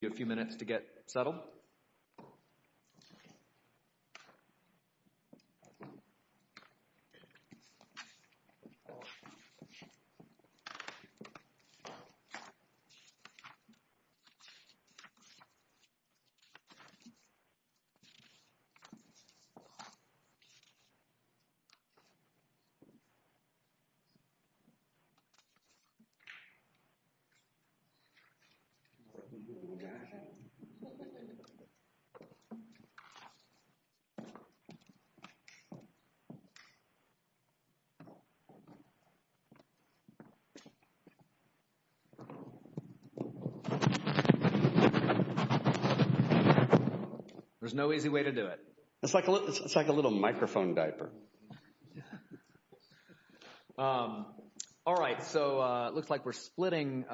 You have a few minutes to get settled. There's no easy way to do it. It's like a little microphone diaper. All right, so it looks like we're splitting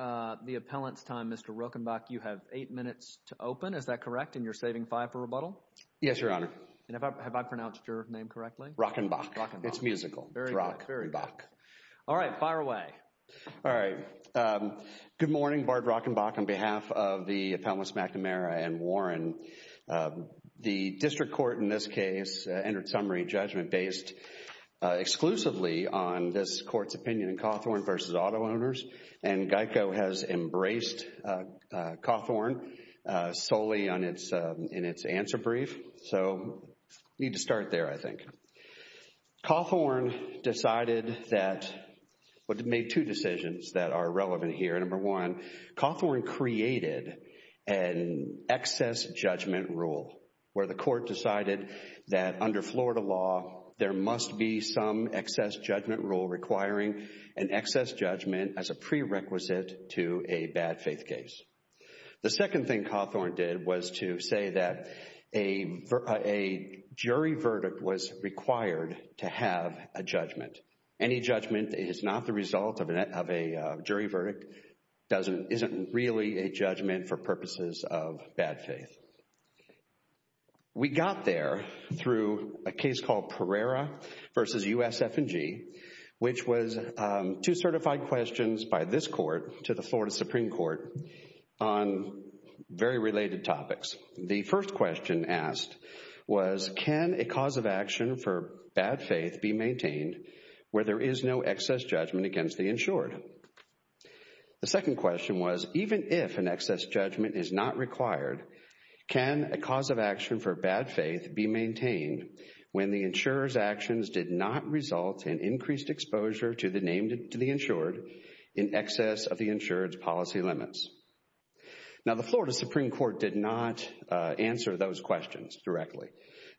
the appellant's time. Mr. Rochenbach, you have eight minutes to open. Is that correct? And you're saving five for rebuttal? Yes, Your Honor. And have I pronounced your name correctly? Rochenbach. It's musical. Rochenbach. All right. Fire away. All right. Good morning. Bart Rochenbach on behalf of the appellants McNamara and Warren. The district court in this case entered summary judgment based exclusively on this court's opinion in Cawthorne v. Auto Owners. And GEICO has embraced Cawthorne solely in its answer brief. So we need to start there, I think. Cawthorne decided that – well, they made two decisions that are relevant here. Number one, Cawthorne created an excess judgment rule where the court decided that under Florida law, there must be some excess judgment rule requiring an excess judgment as a prerequisite to a bad faith case. The second thing Cawthorne did was to say that a jury verdict was required to have a judgment. Any judgment is not the result of a jury verdict, isn't really a judgment for purposes of bad faith. We got there through a case called Pereira v. USF&G, which was two certified questions by this court to the Florida Supreme Court on very related topics. The first question asked was, can a cause of action for bad faith be maintained where there is no excess judgment against the insured? The second question was, even if an excess judgment is not required, can a cause of action for bad faith be maintained when the insurer's actions did not result in increased exposure to the insured in excess of the insured's policy limits? Now the Florida Supreme Court did not answer those questions directly.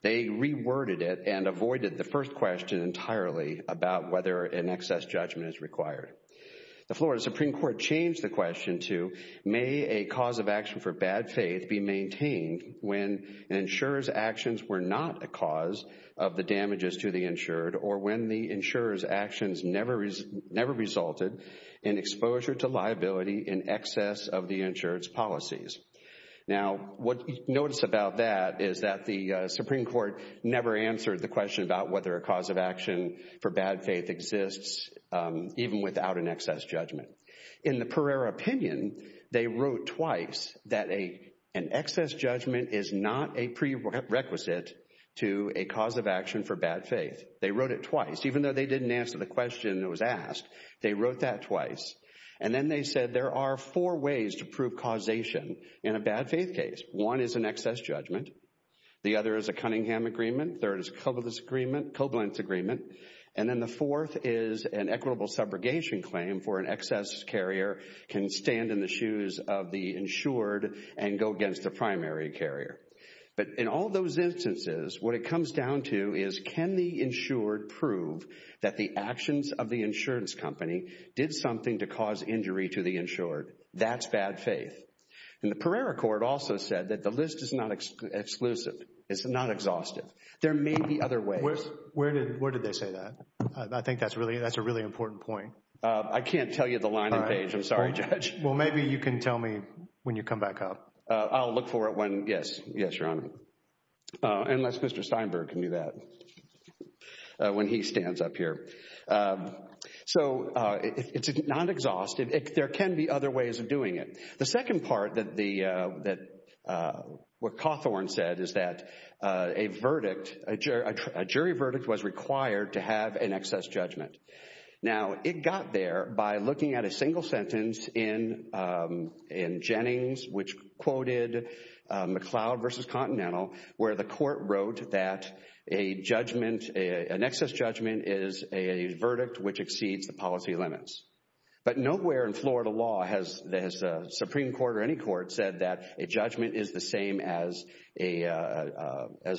They reworded it and avoided the first question entirely about whether an excess judgment is required. The Florida Supreme Court changed the question to, may a cause of action for bad faith be maintained when an insurer's actions were not a cause of the damages to the insured, or when the insurer's actions never resulted in exposure to liability in excess of the insured's policies? Now what you notice about that is that the Supreme Court never answered the question about whether a cause of action for bad faith exists, even without an excess judgment. In the Pereira opinion, they wrote twice that an excess judgment is not a prerequisite to a cause of action for bad faith. They wrote it twice. Even though they didn't answer the question that was asked, they wrote that twice. And then they said there are four ways to prove causation in a bad faith case. One is an excess judgment. The other is a Cunningham agreement. The third is a Koblenz agreement. And then the fourth is an equitable subrogation claim for an excess carrier can stand in the shoes of the insured and go against the primary carrier. But in all those instances, what it comes down to is can the insured prove that the actions of the insurance company did something to cause injury to the insured? That's bad faith. And the Pereira court also said that the list is not exclusive. It's not exhaustive. There may be other ways. Where did they say that? I think that's a really important point. I can't tell you the line and page. I'm sorry, Judge. Well, maybe you can tell me when you come back up. I'll look for it when, yes. Yes, Your Honor. Unless Mr. Steinberg can do that when he stands up here. So it's not exhaustive. There can be other ways of doing it. The second part that what Cawthorne said is that a verdict, a jury verdict was required to have an excess judgment. Now, it got there by looking at a single sentence in Jennings, which quoted McLeod v. Continental, where the court wrote that an excess judgment is a verdict which exceeds the policy limits. But nowhere in Florida law has a Supreme Court or any court said that a judgment is the same as a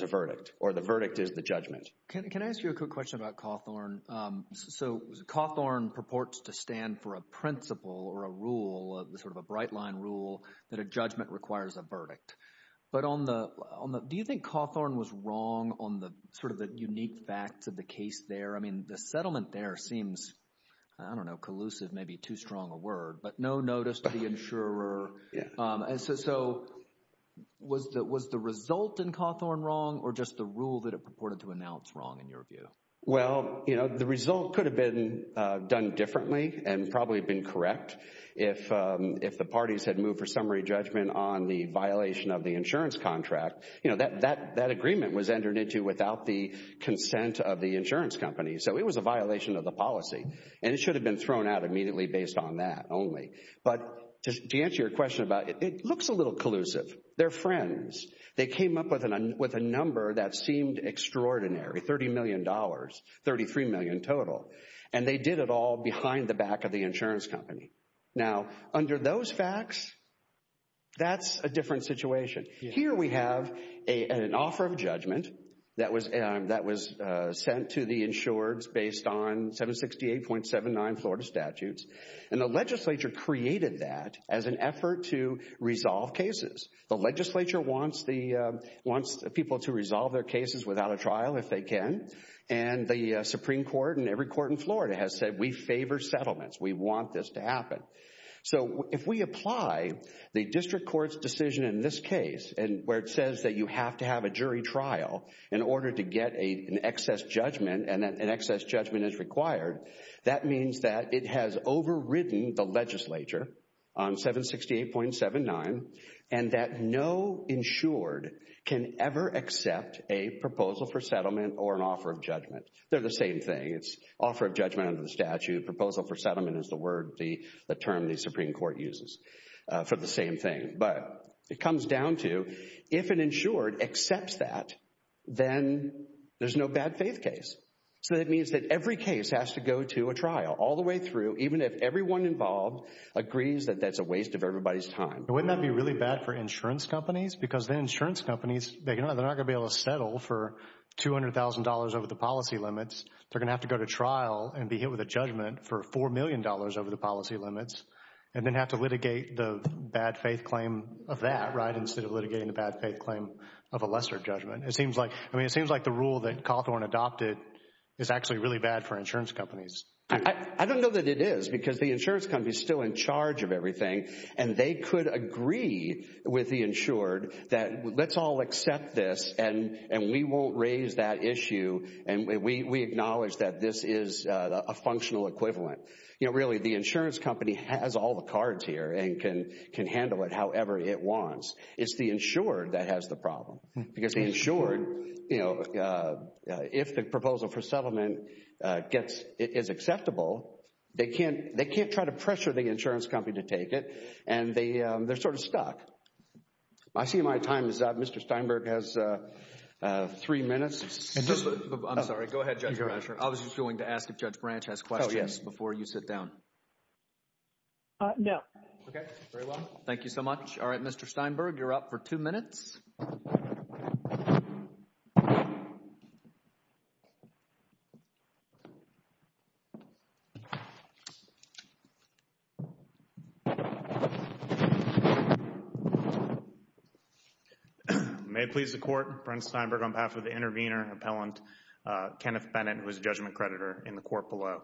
verdict or the verdict is the judgment. Thank you very much. Can I ask you a quick question about Cawthorne? So Cawthorne purports to stand for a principle or a rule, sort of a bright-line rule, that a judgment requires a verdict. But do you think Cawthorne was wrong on sort of the unique facts of the case there? I mean the settlement there seems, I don't know, collusive, maybe too strong a word, but no notice to the insurer. So was the result in Cawthorne wrong or just the rule that it purported to announce wrong in your view? Well, you know, the result could have been done differently and probably been correct. If the parties had moved for summary judgment on the violation of the insurance contract, you know, that agreement was entered into without the consent of the insurance company. So it was a violation of the policy, and it should have been thrown out immediately based on that only. But to answer your question about it, it looks a little collusive. They're friends. They came up with a number that seemed extraordinary, $30 million, $33 million total. And they did it all behind the back of the insurance company. Now, under those facts, that's a different situation. Here we have an offer of judgment that was sent to the insureds based on 768.79 Florida statutes. And the legislature created that as an effort to resolve cases. The legislature wants people to resolve their cases without a trial if they can. And the Supreme Court and every court in Florida has said we favor settlements. We want this to happen. So if we apply the district court's decision in this case where it says that you have to have a jury trial in order to get an excess judgment and that an excess judgment is required, that means that it has overridden the legislature on 768.79 and that no insured can ever accept a proposal for settlement or an offer of judgment. They're the same thing. It's offer of judgment under the statute. Proposal for settlement is the term the Supreme Court uses for the same thing. But it comes down to if an insured accepts that, then there's no bad faith case. So that means that every case has to go to a trial all the way through, even if everyone involved agrees that that's a waste of everybody's time. Wouldn't that be really bad for insurance companies? Because then insurance companies, they're not going to be able to settle for $200,000 over the policy limits. They're going to have to go to trial and be hit with a judgment for $4 million over the policy limits and then have to litigate the bad faith claim of that, right, instead of litigating the bad faith claim of a lesser judgment. It seems like the rule that Cawthorn adopted is actually really bad for insurance companies. I don't know that it is because the insurance company is still in charge of everything and they could agree with the insured that let's all accept this and we won't raise that issue and we acknowledge that this is a functional equivalent. Really, the insurance company has all the cards here and can handle it however it wants. It's the insured that has the problem. Because the insured, if the proposal for settlement is acceptable, they can't try to pressure the insurance company to take it and they're sort of stuck. I see my time is up. Mr. Steinberg has three minutes. I'm sorry. Go ahead, Judge Branch. I was just going to ask if Judge Branch has questions before you sit down. No. Okay. Very well. Thank you so much. All right, Mr. Steinberg, you're up for two minutes. May it please the Court, Brent Steinberg on behalf of the intervener and appellant, Kenneth Bennett, who is a judgment creditor in the court below.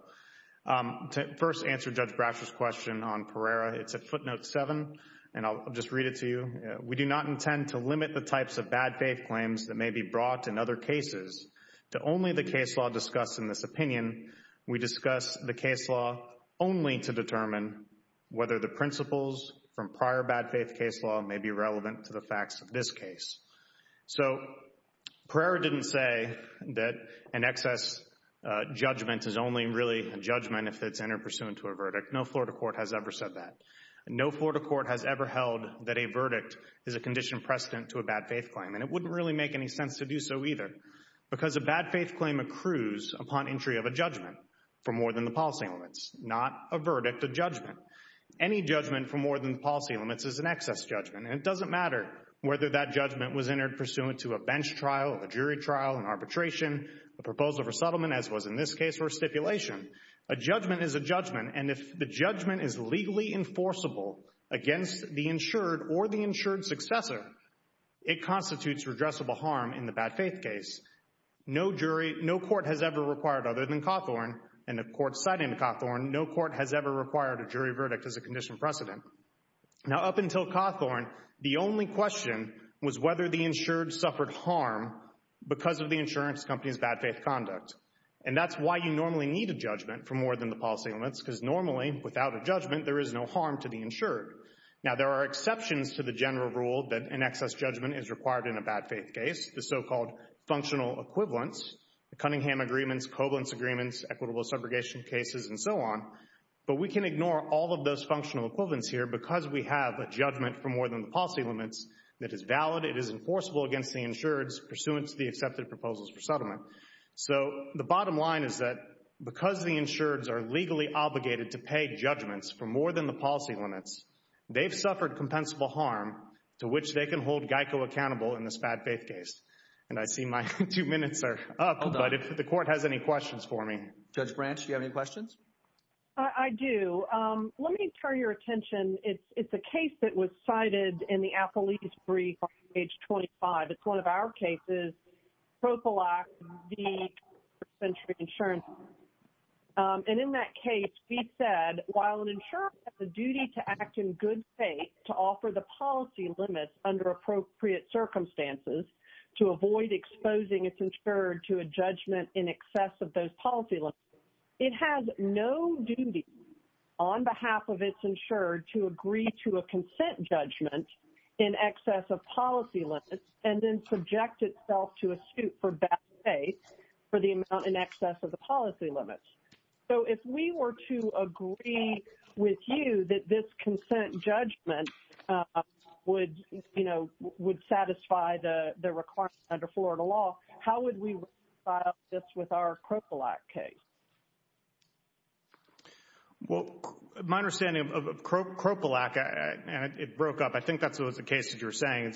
To first answer Judge Bratcher's question on Pereira, it's at footnote seven, and I'll just read it to you. We do not intend to limit the types of bad faith claims that may be brought in other cases. To only the case law discussed in this opinion, we discuss the case law only to determine whether the principles from prior bad faith case law may be relevant to the facts of this case. So Pereira didn't say that an excess judgment is only really a judgment if it's interpursuant to a verdict. No Florida court has ever said that. No Florida court has ever held that a verdict is a condition precedent to a bad faith claim, and it wouldn't really make any sense to do so either. Because a bad faith claim accrues upon entry of a judgment for more than the policy limits, not a verdict, a judgment. Any judgment for more than the policy limits is an excess judgment, and it doesn't matter whether that judgment was interpursuant to a bench trial, a jury trial, an arbitration, a proposal for settlement, as was in this case, or a stipulation. A judgment is a judgment, and if the judgment is legally enforceable against the insured or the insured successor, it constitutes redressable harm in the bad faith case. No jury, no court has ever required other than Cawthorn, and the court citing Cawthorn, no court has ever required a jury verdict as a condition precedent. Now up until Cawthorn, the only question was whether the insured suffered harm because of the insurance company's bad faith conduct. And that's why you normally need a judgment for more than the policy limits, because normally, without a judgment, there is no harm to the insured. Now there are exceptions to the general rule that an excess judgment is required in a bad faith case, the so-called functional equivalents, the Cunningham Agreements, Covalence Agreements, equitable subrogation cases, and so on. But we can ignore all of those functional equivalents here because we have a judgment for more than the policy limits that is valid, it is enforceable against the insured pursuant to the accepted proposals for settlement. So the bottom line is that because the insureds are legally obligated to pay judgments for more than the policy limits, they've suffered compensable harm to which they can hold GEICO accountable in this bad faith case. And I see my two minutes are up, but if the court has any questions for me. Judge Branch, do you have any questions? I do. Let me turn your attention. It's a case that was cited in the Appellee's Brief on page 25. It's one of our cases, Propal Act v. First Century Insurance. And in that case, we said while an insurer has a duty to act in good faith to offer the policy limits under appropriate circumstances to avoid exposing its insured to a judgment in excess of those policy limits, it has no duty on behalf of its insured to agree to a consent judgment in excess of policy limits and then subject itself to a suit for bad faith for the amount in excess of the policy limits. So if we were to agree with you that this consent judgment would, you know, would satisfy the requirements under Florida law, how would we file this with our Propal Act case? Well, my understanding of Propal Act, and it broke up, I think that was the case that you were saying.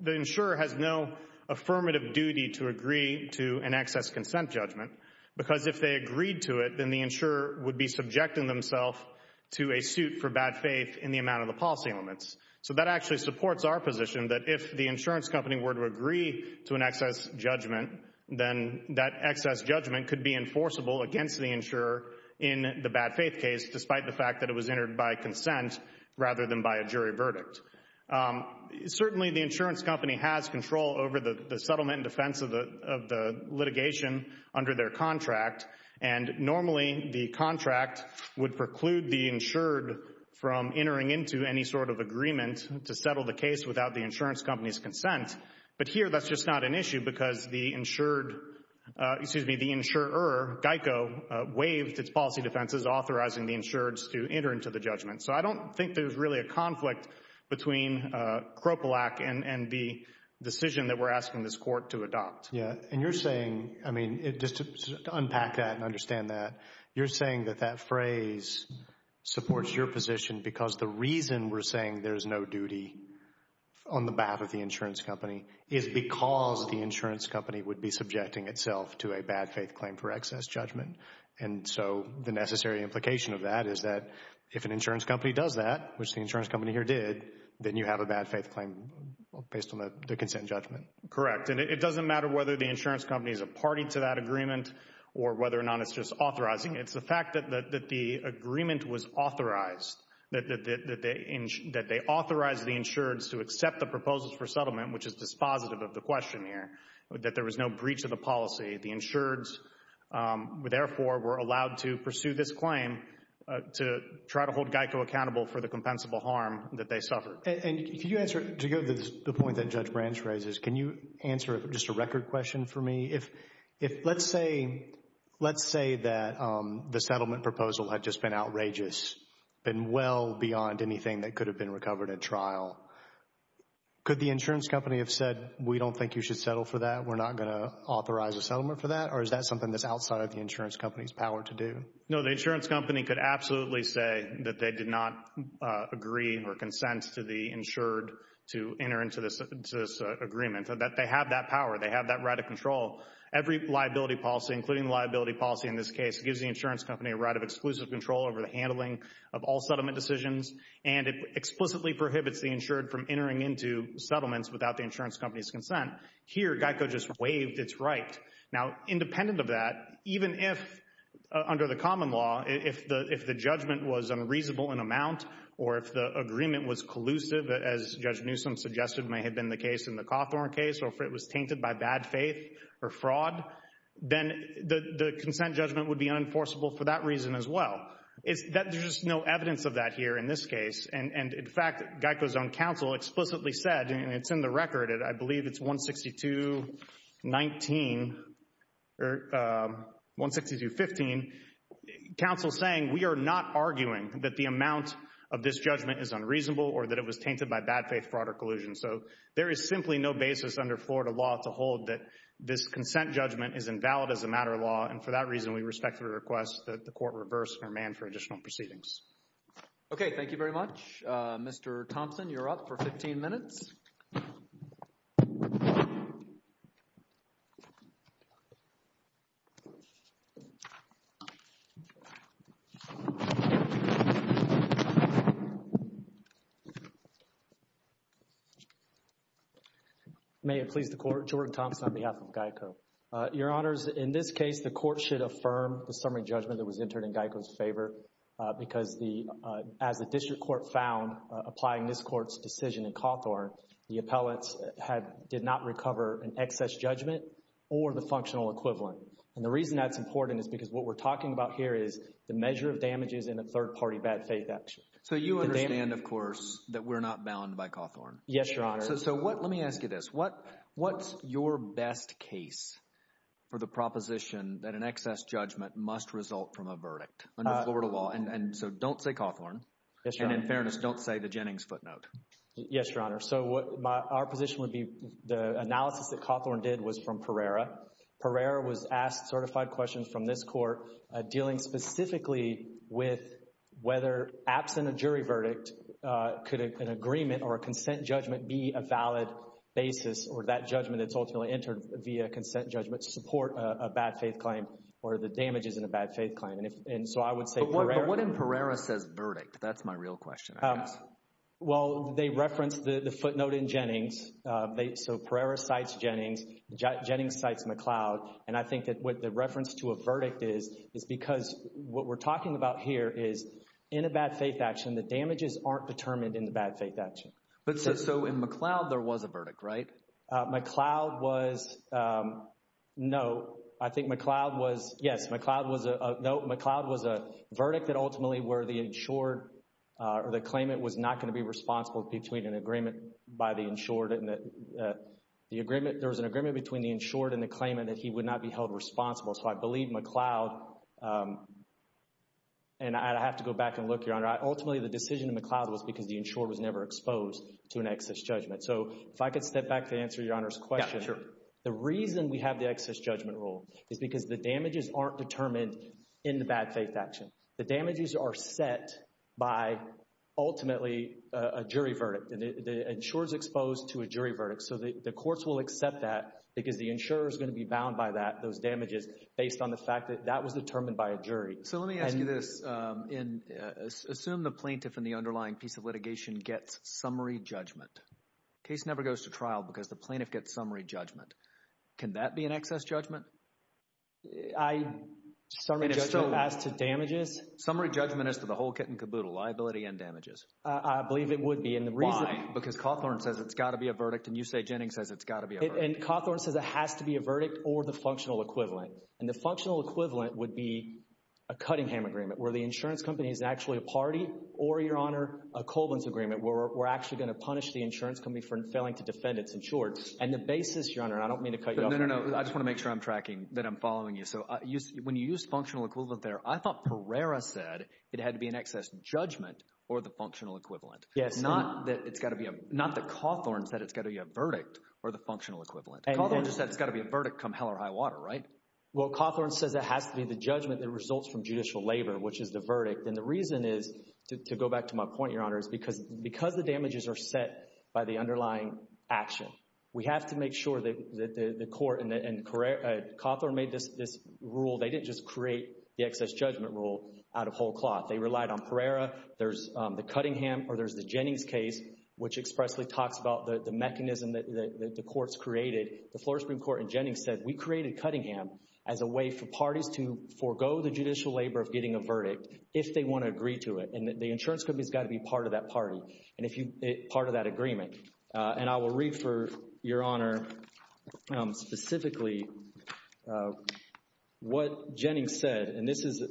The insurer has no affirmative duty to agree to an excess consent judgment because if they agreed to it, then the insurer would be subjecting themselves to a suit for bad faith in the amount of the policy limits. So that actually supports our position that if the insurance company were to agree to an excess judgment, then that excess judgment could be enforceable against the insurer in the bad faith case despite the fact that it was entered by consent rather than by a jury verdict. Certainly the insurance company has control over the settlement and defense of the litigation under their contract, and normally the contract would preclude the insured from entering into any sort of agreement to settle the case without the insurance company's consent. But here that's just not an issue because the insured, excuse me, the insurer, GEICO, waived its policy defenses authorizing the insured to enter into the judgment. So I don't think there's really a conflict between Propal Act and the decision that we're asking this court to adopt. Yeah, and you're saying, I mean, just to unpack that and understand that, you're saying that that phrase supports your position because the reason we're saying there's no duty on the behalf of the insurance company is because the insurance company would be subjecting itself to a bad faith claim for excess judgment. And so the necessary implication of that is that if an insurance company does that, which the insurance company here did, then you have a bad faith claim based on the consent judgment. Correct. And it doesn't matter whether the insurance company is a party to that agreement or whether or not it's just authorizing. It's the fact that the agreement was authorized, that they authorized the insured to accept the proposals for settlement, which is dispositive of the question here, that there was no breach of the policy. The insured, therefore, were allowed to pursue this claim to try to hold GEICO accountable for the compensable harm that they suffered. And can you answer, to go to the point that Judge Branch raises, can you answer just a record question for me? If, let's say, let's say that the settlement proposal had just been outrageous, been well beyond anything that could have been recovered at trial. Could the insurance company have said, we don't think you should settle for that, we're not going to authorize a settlement for that? Or is that something that's outside of the insurance company's power to do? No, the insurance company could absolutely say that they did not agree or consent to the insured to enter into this agreement, that they have that power, they have that right of control. Every liability policy, including liability policy in this case, gives the insurance company a right of exclusive control over the handling of all settlement decisions. And it explicitly prohibits the insured from entering into settlements without the insurance company's consent. Here, GEICO just waived its right. Now, independent of that, even if, under the common law, if the judgment was unreasonable in amount, or if the agreement was collusive, as Judge Newsom suggested may have been the case in the Cawthorn case, or if it was tainted by bad faith or fraud, then the consent judgment would be unenforceable for that reason as well. There's just no evidence of that here in this case. And, in fact, GEICO's own counsel explicitly said, and it's in the record, I believe it's 162.19, or 162.15, counsel saying, we are not arguing that the amount of this judgment is unreasonable or that it was tainted by bad faith, fraud, or collusion. So there is simply no basis under Florida law to hold that this consent judgment is invalid as a matter of law. And, for that reason, we respectfully request that the court reverse and remand for additional proceedings. Okay. Thank you very much. Mr. Thompson, you're up for 15 minutes. May it please the Court. Jordan Thompson on behalf of GEICO. Your Honors, in this case, the Court should affirm the summary judgment that was entered in GEICO's favor, because as the District Court found applying this Court's decision in Cawthorn, the appellants did not recover an excess judgment or the functional equivalent. And the reason that's important is because what we're talking about here is the measure of damages in a third-party bad faith action. So you understand, of course, that we're not bound by Cawthorn? Yes, Your Honor. So let me ask you this. What's your best case for the proposition that an excess judgment must result from a verdict under Florida law? And so don't say Cawthorn. Yes, Your Honor. And, in fairness, don't say the Jennings footnote. Yes, Your Honor. So our position would be the analysis that Cawthorn did was from Pereira. Pereira was asked certified questions from this Court dealing specifically with whether, absent a jury verdict, could an agreement or a consent judgment be a valid basis or that judgment that's ultimately entered via a consent judgment support a bad faith claim or the damages in a bad faith claim. And so I would say Pereira. But what in Pereira says verdict? That's my real question, I guess. Well, they referenced the footnote in Jennings. So Pereira cites Jennings. Jennings cites McLeod. And I think that what the reference to a verdict is is because what we're talking about here is in a bad faith action, the damages aren't determined in the bad faith action. But so in McLeod, there was a verdict, right? McLeod was no. I think McLeod was yes. McLeod was a no. The claimant was not going to be responsible between an agreement by the insured. There was an agreement between the insured and the claimant that he would not be held responsible. So I believe McLeod. And I'd have to go back and look, Your Honor. Ultimately, the decision in McLeod was because the insured was never exposed to an excess judgment. So if I could step back to answer Your Honor's question. Yeah, sure. The reason we have the excess judgment rule is because the damages aren't determined in the bad faith action. The damages are set by ultimately a jury verdict. The insured is exposed to a jury verdict. So the courts will accept that because the insurer is going to be bound by that, those damages, based on the fact that that was determined by a jury. So let me ask you this. Assume the plaintiff in the underlying piece of litigation gets summary judgment. The case never goes to trial because the plaintiff gets summary judgment. Can that be an excess judgment? Summary judgment as to damages? Summary judgment as to the whole kit and caboodle, liability and damages. I believe it would be. Why? Because Cawthorne says it's got to be a verdict and you say Jennings says it's got to be a verdict. And Cawthorne says it has to be a verdict or the functional equivalent. And the functional equivalent would be a Cuttingham agreement where the insurance company is actually a party or, Your Honor, a Colvin's agreement where we're actually going to punish the insurance company for failing to defend its insured. And the basis, Your Honor, and I don't mean to cut you off. No, no, no, no. I just want to make sure I'm tracking that I'm following you. So when you use functional equivalent there, I thought Pereira said it had to be an excess judgment or the functional equivalent. Yes. Not that it's got to be a – not that Cawthorne said it's got to be a verdict or the functional equivalent. Cawthorne just said it's got to be a verdict come hell or high water, right? Well, Cawthorne says it has to be the judgment that results from judicial labor, which is the verdict. And the reason is, to go back to my point, Your Honor, is because the damages are set by the underlying action. We have to make sure that the court and Cawthorne made this rule. They didn't just create the excess judgment rule out of whole cloth. They relied on Pereira. There's the Cuttingham or there's the Jennings case, which expressly talks about the mechanism that the courts created. The Florida Supreme Court and Jennings said we created Cuttingham as a way for parties to forego the judicial labor of getting a verdict if they want to agree to it. And the insurance company has got to be part of that party and part of that agreement. And I will read for Your Honor specifically what Jennings said, and this is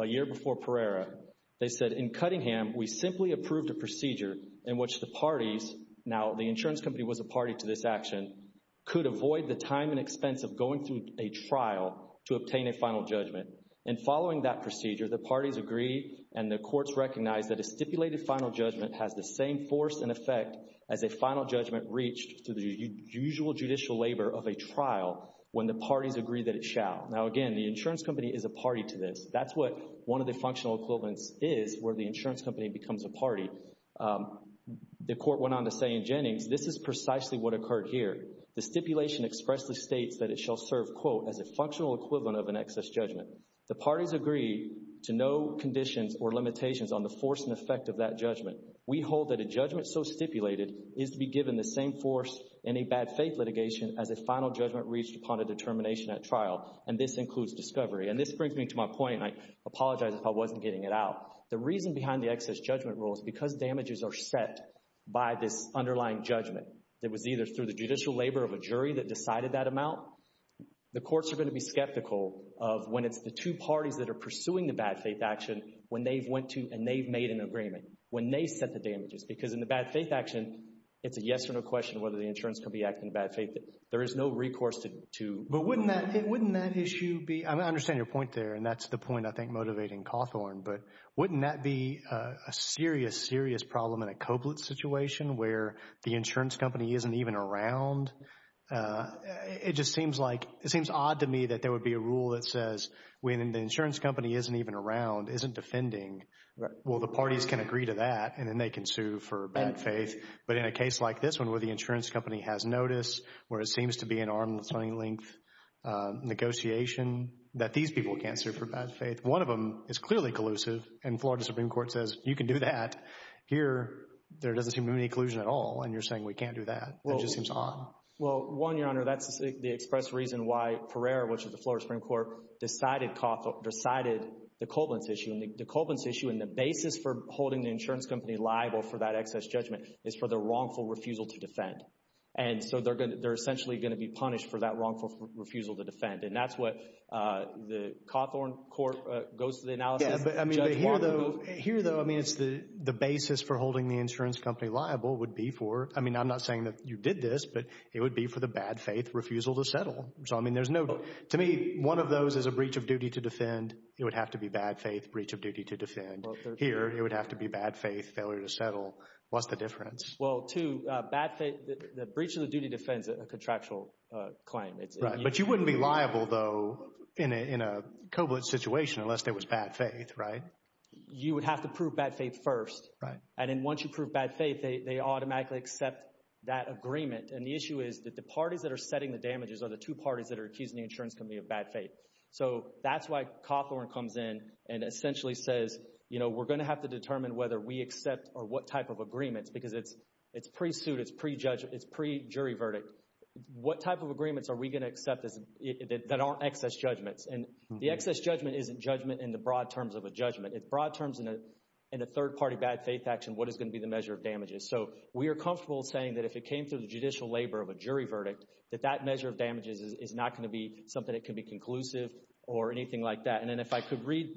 a year before Pereira. They said, in Cuttingham, we simply approved a procedure in which the parties, now the insurance company was a party to this action, could avoid the time and expense of going through a trial to obtain a final judgment. And following that procedure, the parties agree and the courts recognize that a stipulated final judgment has the same force and effect as a final judgment reached to the usual judicial labor of a trial when the parties agree that it shall. Now, again, the insurance company is a party to this. That's what one of the functional equivalents is, where the insurance company becomes a party. The court went on to say in Jennings, this is precisely what occurred here. The stipulation expressly states that it shall serve, quote, as a functional equivalent of an excess judgment. The parties agree to no conditions or limitations on the force and effect of that judgment. We hold that a judgment so stipulated is to be given the same force in a bad faith litigation as a final judgment reached upon a determination at trial, and this includes discovery. And this brings me to my point, and I apologize if I wasn't getting it out. The reason behind the excess judgment rule is because damages are set by this underlying judgment that was either through the judicial labor of a jury that decided that amount. The courts are going to be skeptical of when it's the two parties that are pursuing the bad faith action when they've went to and they've made an agreement, when they set the damages. Because in the bad faith action, it's a yes or no question whether the insurance company acted in bad faith. There is no recourse to— But wouldn't that issue be—I understand your point there, and that's the point I think motivating Cawthorn. But wouldn't that be a serious, serious problem in a Koblet situation where the insurance company isn't even around? It just seems like—it seems odd to me that there would be a rule that says when the insurance company isn't even around, isn't defending. Well, the parties can agree to that, and then they can sue for bad faith. But in a case like this one where the insurance company has notice, where it seems to be an arm's length negotiation, that these people can't sue for bad faith. One of them is clearly collusive, and Florida Supreme Court says you can do that. Here, there doesn't seem to be any collusion at all, and you're saying we can't do that. It just seems odd. Well, one, Your Honor, that's the express reason why Pereira, which is the Florida Supreme Court, decided the Koblet issue. The Koblet issue and the basis for holding the insurance company liable for that excess judgment is for the wrongful refusal to defend. And so they're essentially going to be punished for that wrongful refusal to defend, and that's what the Cawthorn court goes to the analysis. But here, though, I mean it's the basis for holding the insurance company liable would be for—I mean I'm not saying that you did this, but it would be for the bad faith refusal to settle. So, I mean, there's no—to me, one of those is a breach of duty to defend. It would have to be bad faith, breach of duty to defend. Here, it would have to be bad faith, failure to settle. What's the difference? Well, two, bad faith—the breach of the duty defends a contractual claim. But you wouldn't be liable, though, in a Koblet situation unless there was bad faith, right? You would have to prove bad faith first. And then once you prove bad faith, they automatically accept that agreement. And the issue is that the parties that are setting the damages are the two parties that are accusing the insurance company of bad faith. So that's why Cawthorn comes in and essentially says, you know, we're going to have to determine whether we accept or what type of agreements because it's pre-suit, it's pre-jury verdict. What type of agreements are we going to accept that aren't excess judgments? And the excess judgment isn't judgment in the broad terms of a judgment. It's broad terms in a third-party bad faith action, what is going to be the measure of damages. So we are comfortable saying that if it came through the judicial labor of a jury verdict, that that measure of damages is not going to be something that can be conclusive or anything like that. And then if I could read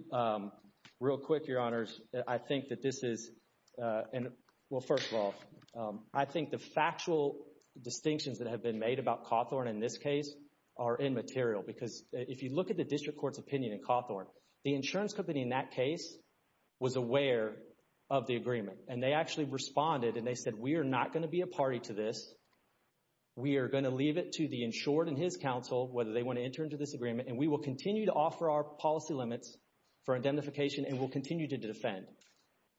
real quick, Your Honors, I think that this is—well, first of all, I think the factual distinctions that have been made about Cawthorn in this case are immaterial. Because if you look at the district court's opinion in Cawthorn, the insurance company in that case was aware of the agreement. And they actually responded and they said, we are not going to be a party to this. We are going to leave it to the insured and his counsel whether they want to enter into this agreement. And we will continue to offer our policy limits for indemnification and we'll continue to defend.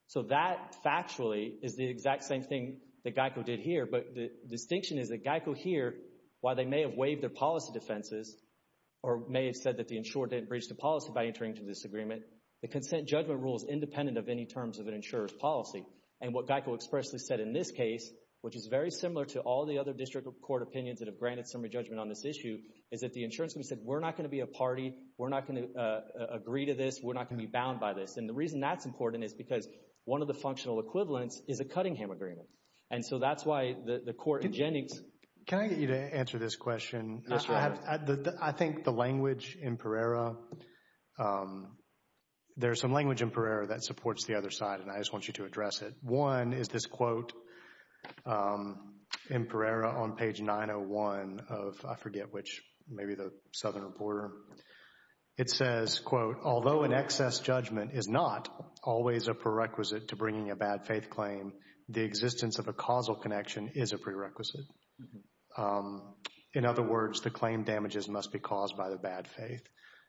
So that factually is the exact same thing that GEICO did here. But the distinction is that GEICO here, while they may have waived their policy defenses or may have said that the insured didn't breach the policy by entering into this agreement, the consent judgment rule is independent of any terms of an insurer's policy. And what GEICO expressly said in this case, which is very similar to all the other district court opinions that have granted summary judgment on this issue, is that the insurance company said, we're not going to be a party. We're not going to agree to this. We're not going to be bound by this. And the reason that's important is because one of the functional equivalents is a Cunningham agreement. And so that's why the court in Jennings— There's some language in Pereira that supports the other side and I just want you to address it. One is this quote in Pereira on page 901 of, I forget which, maybe the Southern Reporter. It says, quote, although an excess judgment is not always a prerequisite to bringing a bad faith claim, the existence of a causal connection is a prerequisite. In other words, the claim damages must be caused by the bad faith.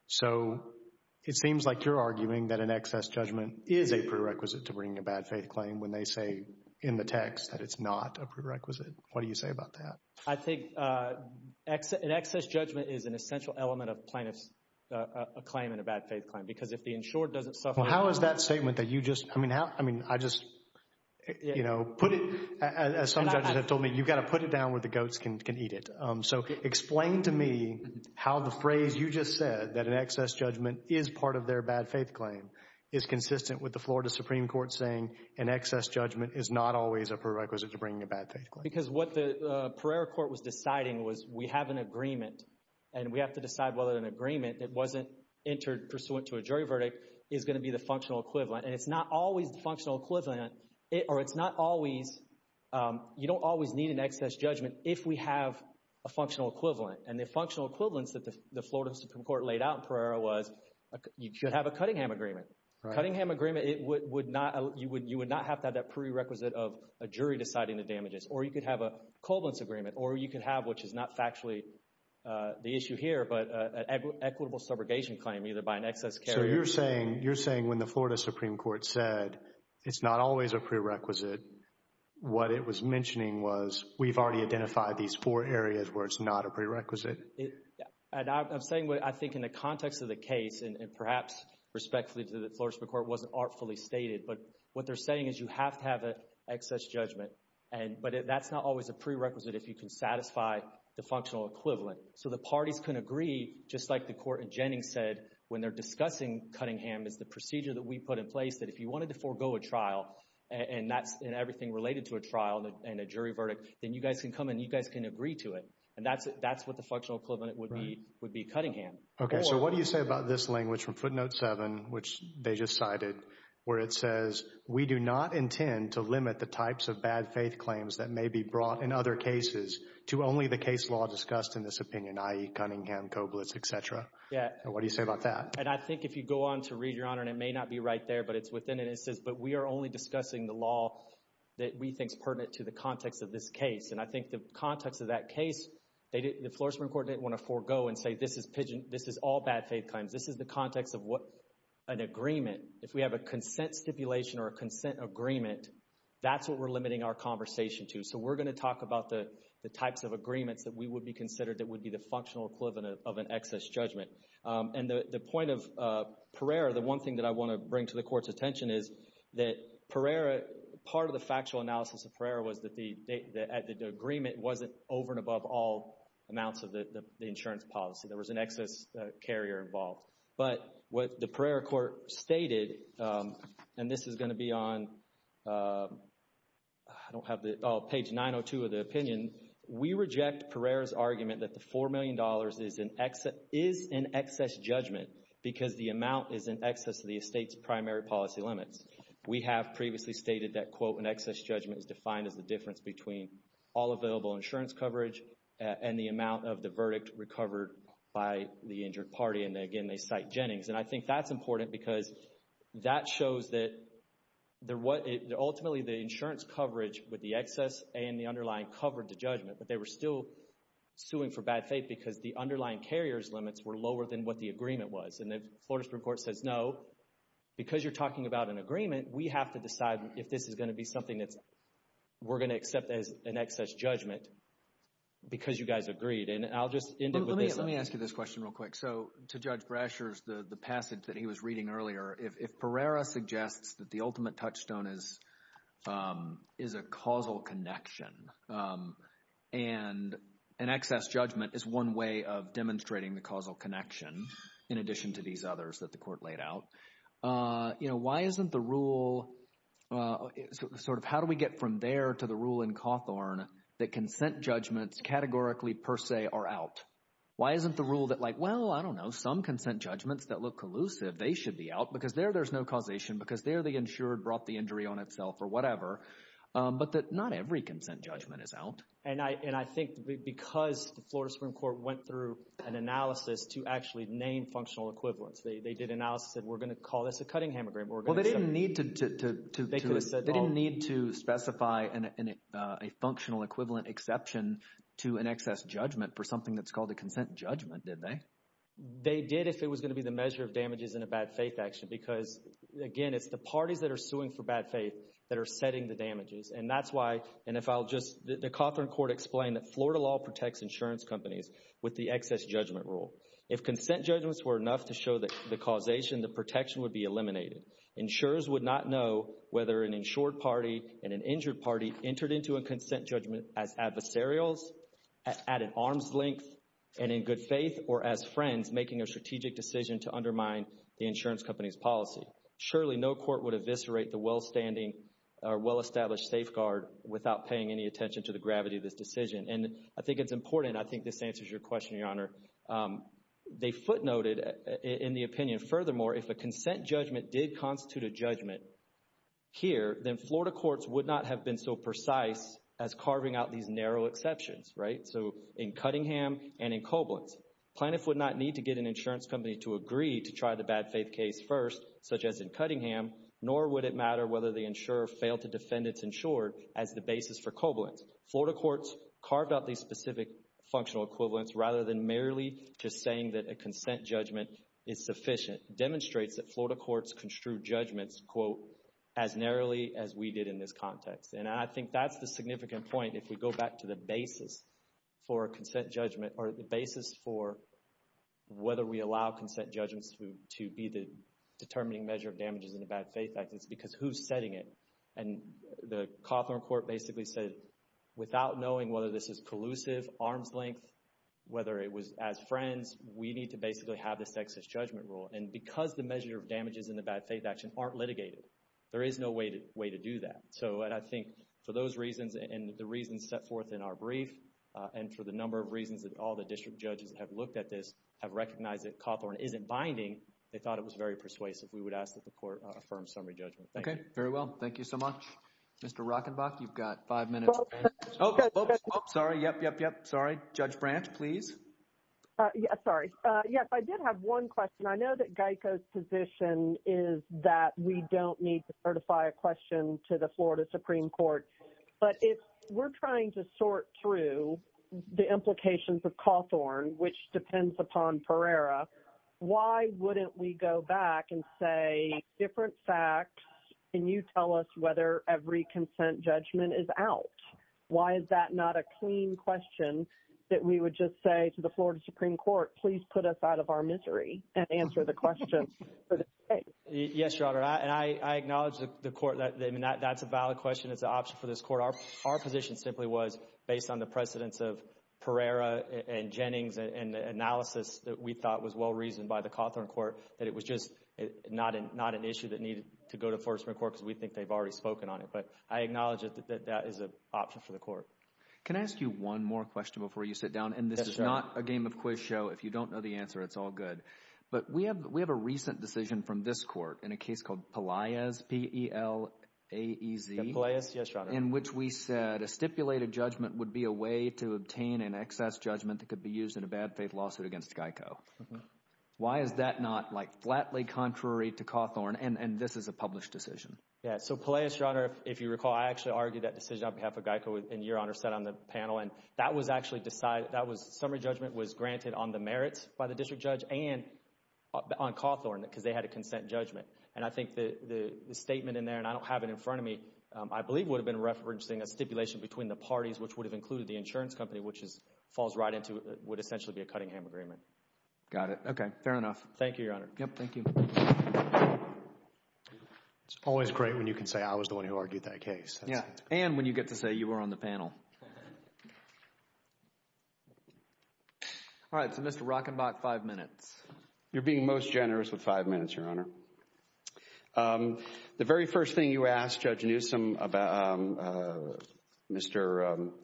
So it seems like you're arguing that an excess judgment is a prerequisite to bringing a bad faith claim when they say in the text that it's not a prerequisite. What do you say about that? I think an excess judgment is an essential element of plaintiff's claim and a bad faith claim because if the insurer doesn't suffer— How is that statement that you just—I mean, I just, you know, put it— As some judges have told me, you've got to put it down where the goats can eat it. So explain to me how the phrase you just said, that an excess judgment is part of their bad faith claim, is consistent with the Florida Supreme Court saying an excess judgment is not always a prerequisite to bringing a bad faith claim. Because what the Pereira court was deciding was we have an agreement and we have to decide whether an agreement that wasn't entered pursuant to a jury verdict is going to be the functional equivalent. And it's not always the functional equivalent, or it's not always—you don't always need an excess judgment if we have a functional equivalent. And the functional equivalence that the Florida Supreme Court laid out in Pereira was you should have a Cunningham agreement. Cunningham agreement, it would not—you would not have to have that prerequisite of a jury deciding the damages. Or you could have a covalence agreement. Or you could have, which is not factually the issue here, but an equitable subrogation claim either by an excess carrier— So you're saying when the Florida Supreme Court said it's not always a prerequisite, what it was mentioning was we've already identified these four areas where it's not a prerequisite. And I'm saying what I think in the context of the case, and perhaps respectfully to the Florida Supreme Court, it wasn't artfully stated. But what they're saying is you have to have an excess judgment. But that's not always a prerequisite if you can satisfy the functional equivalent. So the parties can agree, just like the court in Jennings said when they're discussing Cunningham, it's the procedure that we put in place that if you wanted to forego a trial, and that's—and everything related to a trial and a jury verdict, then you guys can come and you guys can agree to it. And that's what the functional equivalent would be—would be Cunningham. Okay, so what do you say about this language from footnote 7, which they just cited, where it says, we do not intend to limit the types of bad faith claims that may be brought in other cases to only the case law discussed in this opinion, i.e., Cunningham, Koblitz, etc.? Yeah. And what do you say about that? And I think if you go on to read, Your Honor, and it may not be right there, but it's within it. It says, but we are only discussing the law that we think is pertinent to the context of this case. And I think the context of that case, the Floresman Court didn't want to forego and say this is all bad faith claims. This is the context of an agreement. If we have a consent stipulation or a consent agreement, that's what we're limiting our conversation to. So we're going to talk about the types of agreements that we would be considering that would be the functional equivalent of an excess judgment. And the point of Pereira, the one thing that I want to bring to the Court's attention is that Pereira, part of the factual analysis of Pereira was that the agreement wasn't over and above all amounts of the insurance policy. There was an excess carrier involved. But what the Pereira Court stated, and this is going to be on page 902 of the opinion, we reject Pereira's argument that the $4 million is an excess judgment because the amount is in excess of the estate's primary policy limits. We have previously stated that, quote, an excess judgment is defined as the difference between all available insurance coverage and the amount of the verdict recovered by the injured party. And again, they cite Jennings. And I think that's important because that shows that ultimately the insurance coverage with the excess and the underlying covered the judgment. But they were still suing for bad faith because the underlying carrier's limits were lower than what the agreement was. And the Florida Supreme Court says, no, because you're talking about an agreement, we have to decide if this is going to be something that we're going to accept as an excess judgment because you guys agreed. And I'll just end it with this. Let me ask you this question real quick. So to Judge Brasher's, the passage that he was reading earlier, if Pereira suggests that the ultimate touchstone is a causal connection and an excess judgment is one way of demonstrating the causal connection in addition to these others that the court laid out, why isn't the rule sort of how do we get from there to the rule in Cawthorne that consent judgments categorically per se are out? Why isn't the rule that like, well, I don't know, some consent judgments that look collusive, they should be out because there there's no causation because there the insured brought the injury on itself or whatever, but that not every consent judgment is out. And I think because the Florida Supreme Court went through an analysis to actually name functional equivalents, they did analysis and said we're going to call this a cutting hemogram. Well, they didn't need to specify a functional equivalent exception to an excess judgment for something that's called a consent judgment, did they? They did if it was going to be the measure of damages in a bad faith action because, again, it's the parties that are suing for bad faith that are setting the damages. And that's why, and if I'll just, the Cawthorne court explained that Florida law protects insurance companies with the excess judgment rule. If consent judgments were enough to show that the causation, the protection would be eliminated. Insurers would not know whether an insured party and an injured party entered into a consent judgment as adversarials at an arm's length and in good faith or as friends making a strategic decision to undermine the insurance company's policy. Surely no court would eviscerate the well-standing or well-established safeguard without paying any attention to the gravity of this decision. And I think it's important, I think this answers your question, Your Honor. They footnoted in the opinion, furthermore, if a consent judgment did constitute a judgment here, then Florida courts would not have been so precise as carving out these narrow exceptions, right? So in Cuttingham and in Koblenz, plaintiffs would not need to get an insurance company to agree to try the bad faith case first, such as in Cuttingham, nor would it matter whether the insurer failed to defend its insured as the basis for Koblenz. Florida courts carved out these specific functional equivalents rather than merely just saying that a consent judgment is sufficient. Demonstrates that Florida courts construe judgments, quote, as narrowly as we did in this context. And I think that's the significant point if we go back to the basis for a consent judgment or the basis for whether we allow consent judgments to be the determining measure of damages in a bad faith act. It's because who's setting it? And the Cawthorne Court basically said, without knowing whether this is collusive, arm's length, whether it was as friends, we need to basically have the sexist judgment rule. And because the measure of damages in the bad faith action aren't litigated, there is no way to do that. So I think for those reasons and the reasons set forth in our brief and for the number of reasons that all the district judges have looked at this, have recognized that Cawthorne isn't binding, they thought it was very persuasive. We would ask that the court affirm summary judgment. Okay, very well. Thank you so much. Mr. Rockenbach, you've got five minutes. Sorry. Yep, yep, yep. Sorry. Judge Branch, please. Yes. Sorry. Yes, I did have one question. I know that Geico's position is that we don't need to certify a question to the Florida Supreme Court. But if we're trying to sort through the implications of Cawthorne, which depends upon Pereira, why wouldn't we go back and say different facts and you tell us whether every consent judgment is out? Why is that not a clean question that we would just say to the Florida Supreme Court, please put us out of our misery and answer the question? Yes, Your Honor. And I acknowledge the court that that's a valid question. It's an option for this court. Our position simply was, based on the precedence of Pereira and Jennings and the analysis that we thought was well reasoned by the Cawthorne court, that it was just not an issue that needed to go to Florida Supreme Court because we think they've already spoken on it. But I acknowledge that that is an option for the court. Can I ask you one more question before you sit down? And this is not a game of quiz show. If you don't know the answer, it's all good. But we have a recent decision from this court in a case called Pelaez, P-E-L-A-E-Z. Pelaez, yes, Your Honor. In which we said a stipulated judgment would be a way to obtain an excess judgment that could be used in a bad faith lawsuit against GEICO. Why is that not like flatly contrary to Cawthorne? And this is a published decision. Yes, so Pelaez, Your Honor, if you recall, I actually argued that decision on behalf of GEICO and Your Honor sat on the panel. And that was actually decided, that summary judgment was granted on the merits by the district judge and on Cawthorne because they had a consent judgment. And I think the statement in there, and I don't have it in front of me, I believe would have been referencing a stipulation between the parties, which would have included the insurance company, which falls right into what would essentially be a Cuttingham agreement. Got it. Okay, fair enough. Thank you, Your Honor. Yep, thank you. It's always great when you can say I was the one who argued that case. Yeah, and when you get to say you were on the panel. All right, so Mr. Rockenbach, five minutes. You're being most generous with five minutes, Your Honor. The very first thing you asked Judge Newsom, Mr.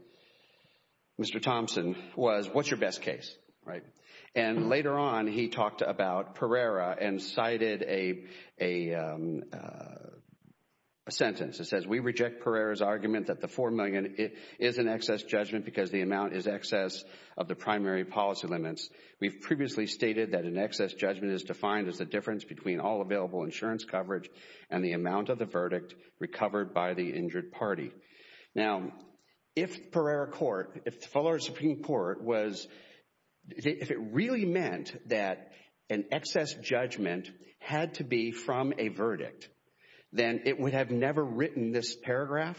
Thompson, was what's your best case, right? And later on, he talked about Pereira and cited a sentence that says, we reject Pereira's argument that the $4 million is an excess judgment because the amount is excess of the primary policy limits. We've previously stated that an excess judgment is defined as the difference between all available insurance coverage and the amount of the verdict recovered by the injured party. Now, if Pereira Court, if the Fuller Supreme Court was, if it really meant that an excess judgment had to be from a verdict, then it would have never written this paragraph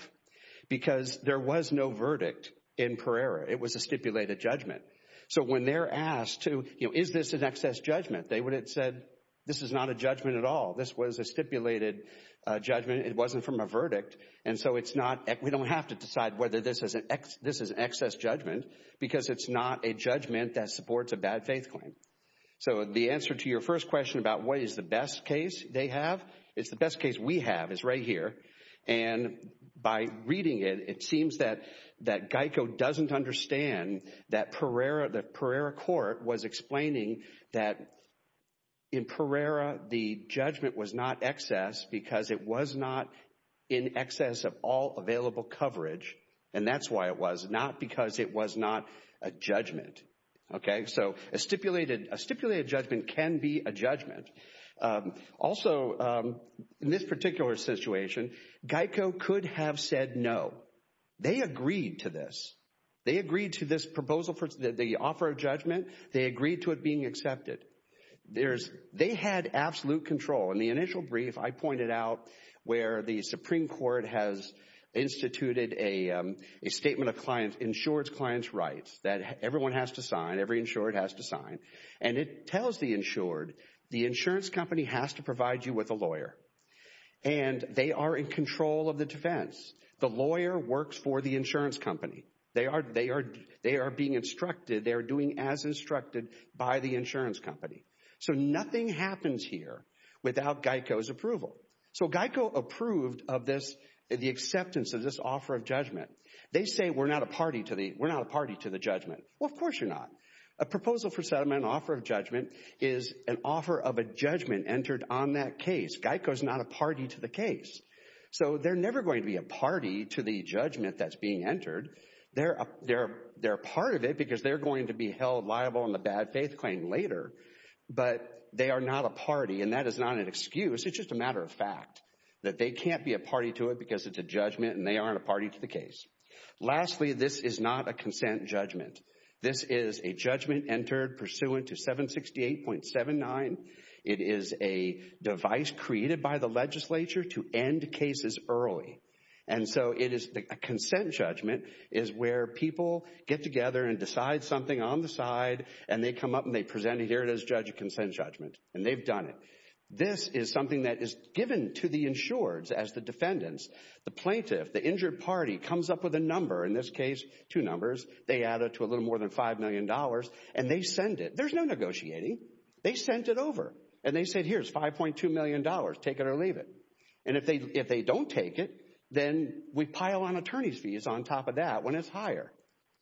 because there was no verdict in Pereira. It was a stipulated judgment. So when they're asked to, you know, is this an excess judgment, they would have said this is not a judgment at all. This was a stipulated judgment. It wasn't from a verdict. And so it's not, we don't have to decide whether this is an excess judgment because it's not a judgment that supports a bad faith claim. So the answer to your first question about what is the best case they have, it's the best case we have is right here. And by reading it, it seems that Geico doesn't understand that Pereira Court was explaining that in Pereira the judgment was not excess because it was not in excess of all available coverage. And that's why it was, not because it was not a judgment. Okay, so a stipulated judgment can be a judgment. Also, in this particular situation, Geico could have said no. They agreed to this. They agreed to this proposal for the offer of judgment. They agreed to it being accepted. They had absolute control. In the initial brief, I pointed out where the Supreme Court has instituted a statement of insurance clients' rights that everyone has to sign, every insured has to sign. And it tells the insured, the insurance company has to provide you with a lawyer. And they are in control of the defense. The lawyer works for the insurance company. They are being instructed, they are doing as instructed by the insurance company. So nothing happens here without Geico's approval. So Geico approved of this, the acceptance of this offer of judgment. They say we're not a party to the judgment. Well, of course you're not. A proposal for settlement, an offer of judgment, is an offer of a judgment entered on that case. Geico is not a party to the case. So they're never going to be a party to the judgment that's being entered. They're a part of it because they're going to be held liable on the bad faith claim later. But they are not a party, and that is not an excuse. It's just a matter of fact that they can't be a party to it because it's a judgment and they aren't a party to the case. Lastly, this is not a consent judgment. This is a judgment entered pursuant to 768.79. It is a device created by the legislature to end cases early. And so it is a consent judgment is where people get together and decide something on the side, and they come up and they present it here as judge of consent judgment, and they've done it. This is something that is given to the insureds as the defendants. The plaintiff, the injured party, comes up with a number, in this case two numbers. They add it to a little more than $5 million, and they send it. There's no negotiating. They sent it over, and they said, here's $5.2 million. Take it or leave it. And if they don't take it, then we pile on attorney's fees on top of that when it's higher.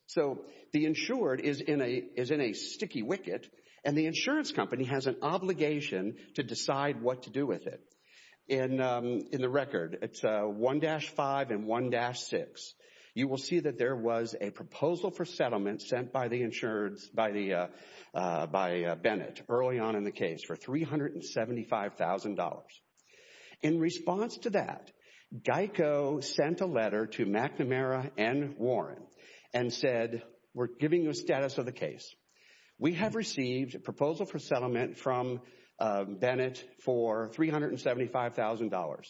So the insured is in a sticky wicket, and the insurance company has an obligation to decide what to do with it. In the record, it's 1-5 and 1-6. You will see that there was a proposal for settlement sent by Bennett early on in the case for $375,000. In response to that, GEICO sent a letter to McNamara and Warren and said, we're giving you a status of the case. We have received a proposal for settlement from Bennett for $375,000.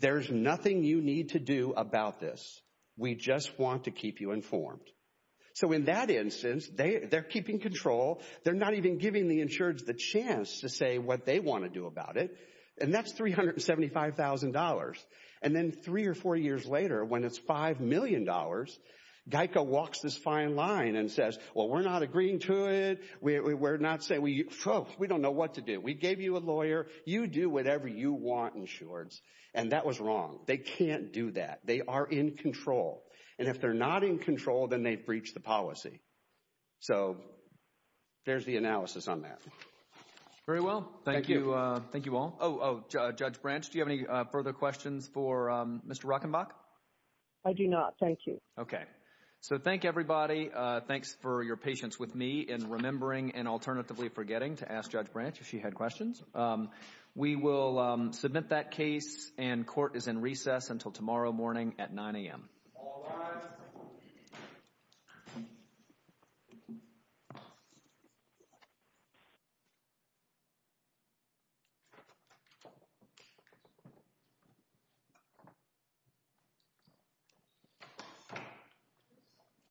There's nothing you need to do about this. We just want to keep you informed. So in that instance, they're keeping control. They're not even giving the insureds the chance to say what they want to do about it. And that's $375,000. And then three or four years later, when it's $5 million, GEICO walks this fine line and says, well, we're not agreeing to it. We're not saying, we don't know what to do. We gave you a lawyer. You do whatever you want, insureds. And that was wrong. They can't do that. They are in control. And if they're not in control, then they've breached the policy. So there's the analysis on that. Very well. Thank you. Thank you all. Oh, Judge Branch, do you have any further questions for Mr. Rockenbach? I do not, thank you. Okay. So thank everybody. Thanks for your patience with me in remembering and alternatively forgetting to ask Judge Branch if she had questions. We will submit that case, and court is in recess until tomorrow morning at 9 a.m. All rise. Thank you.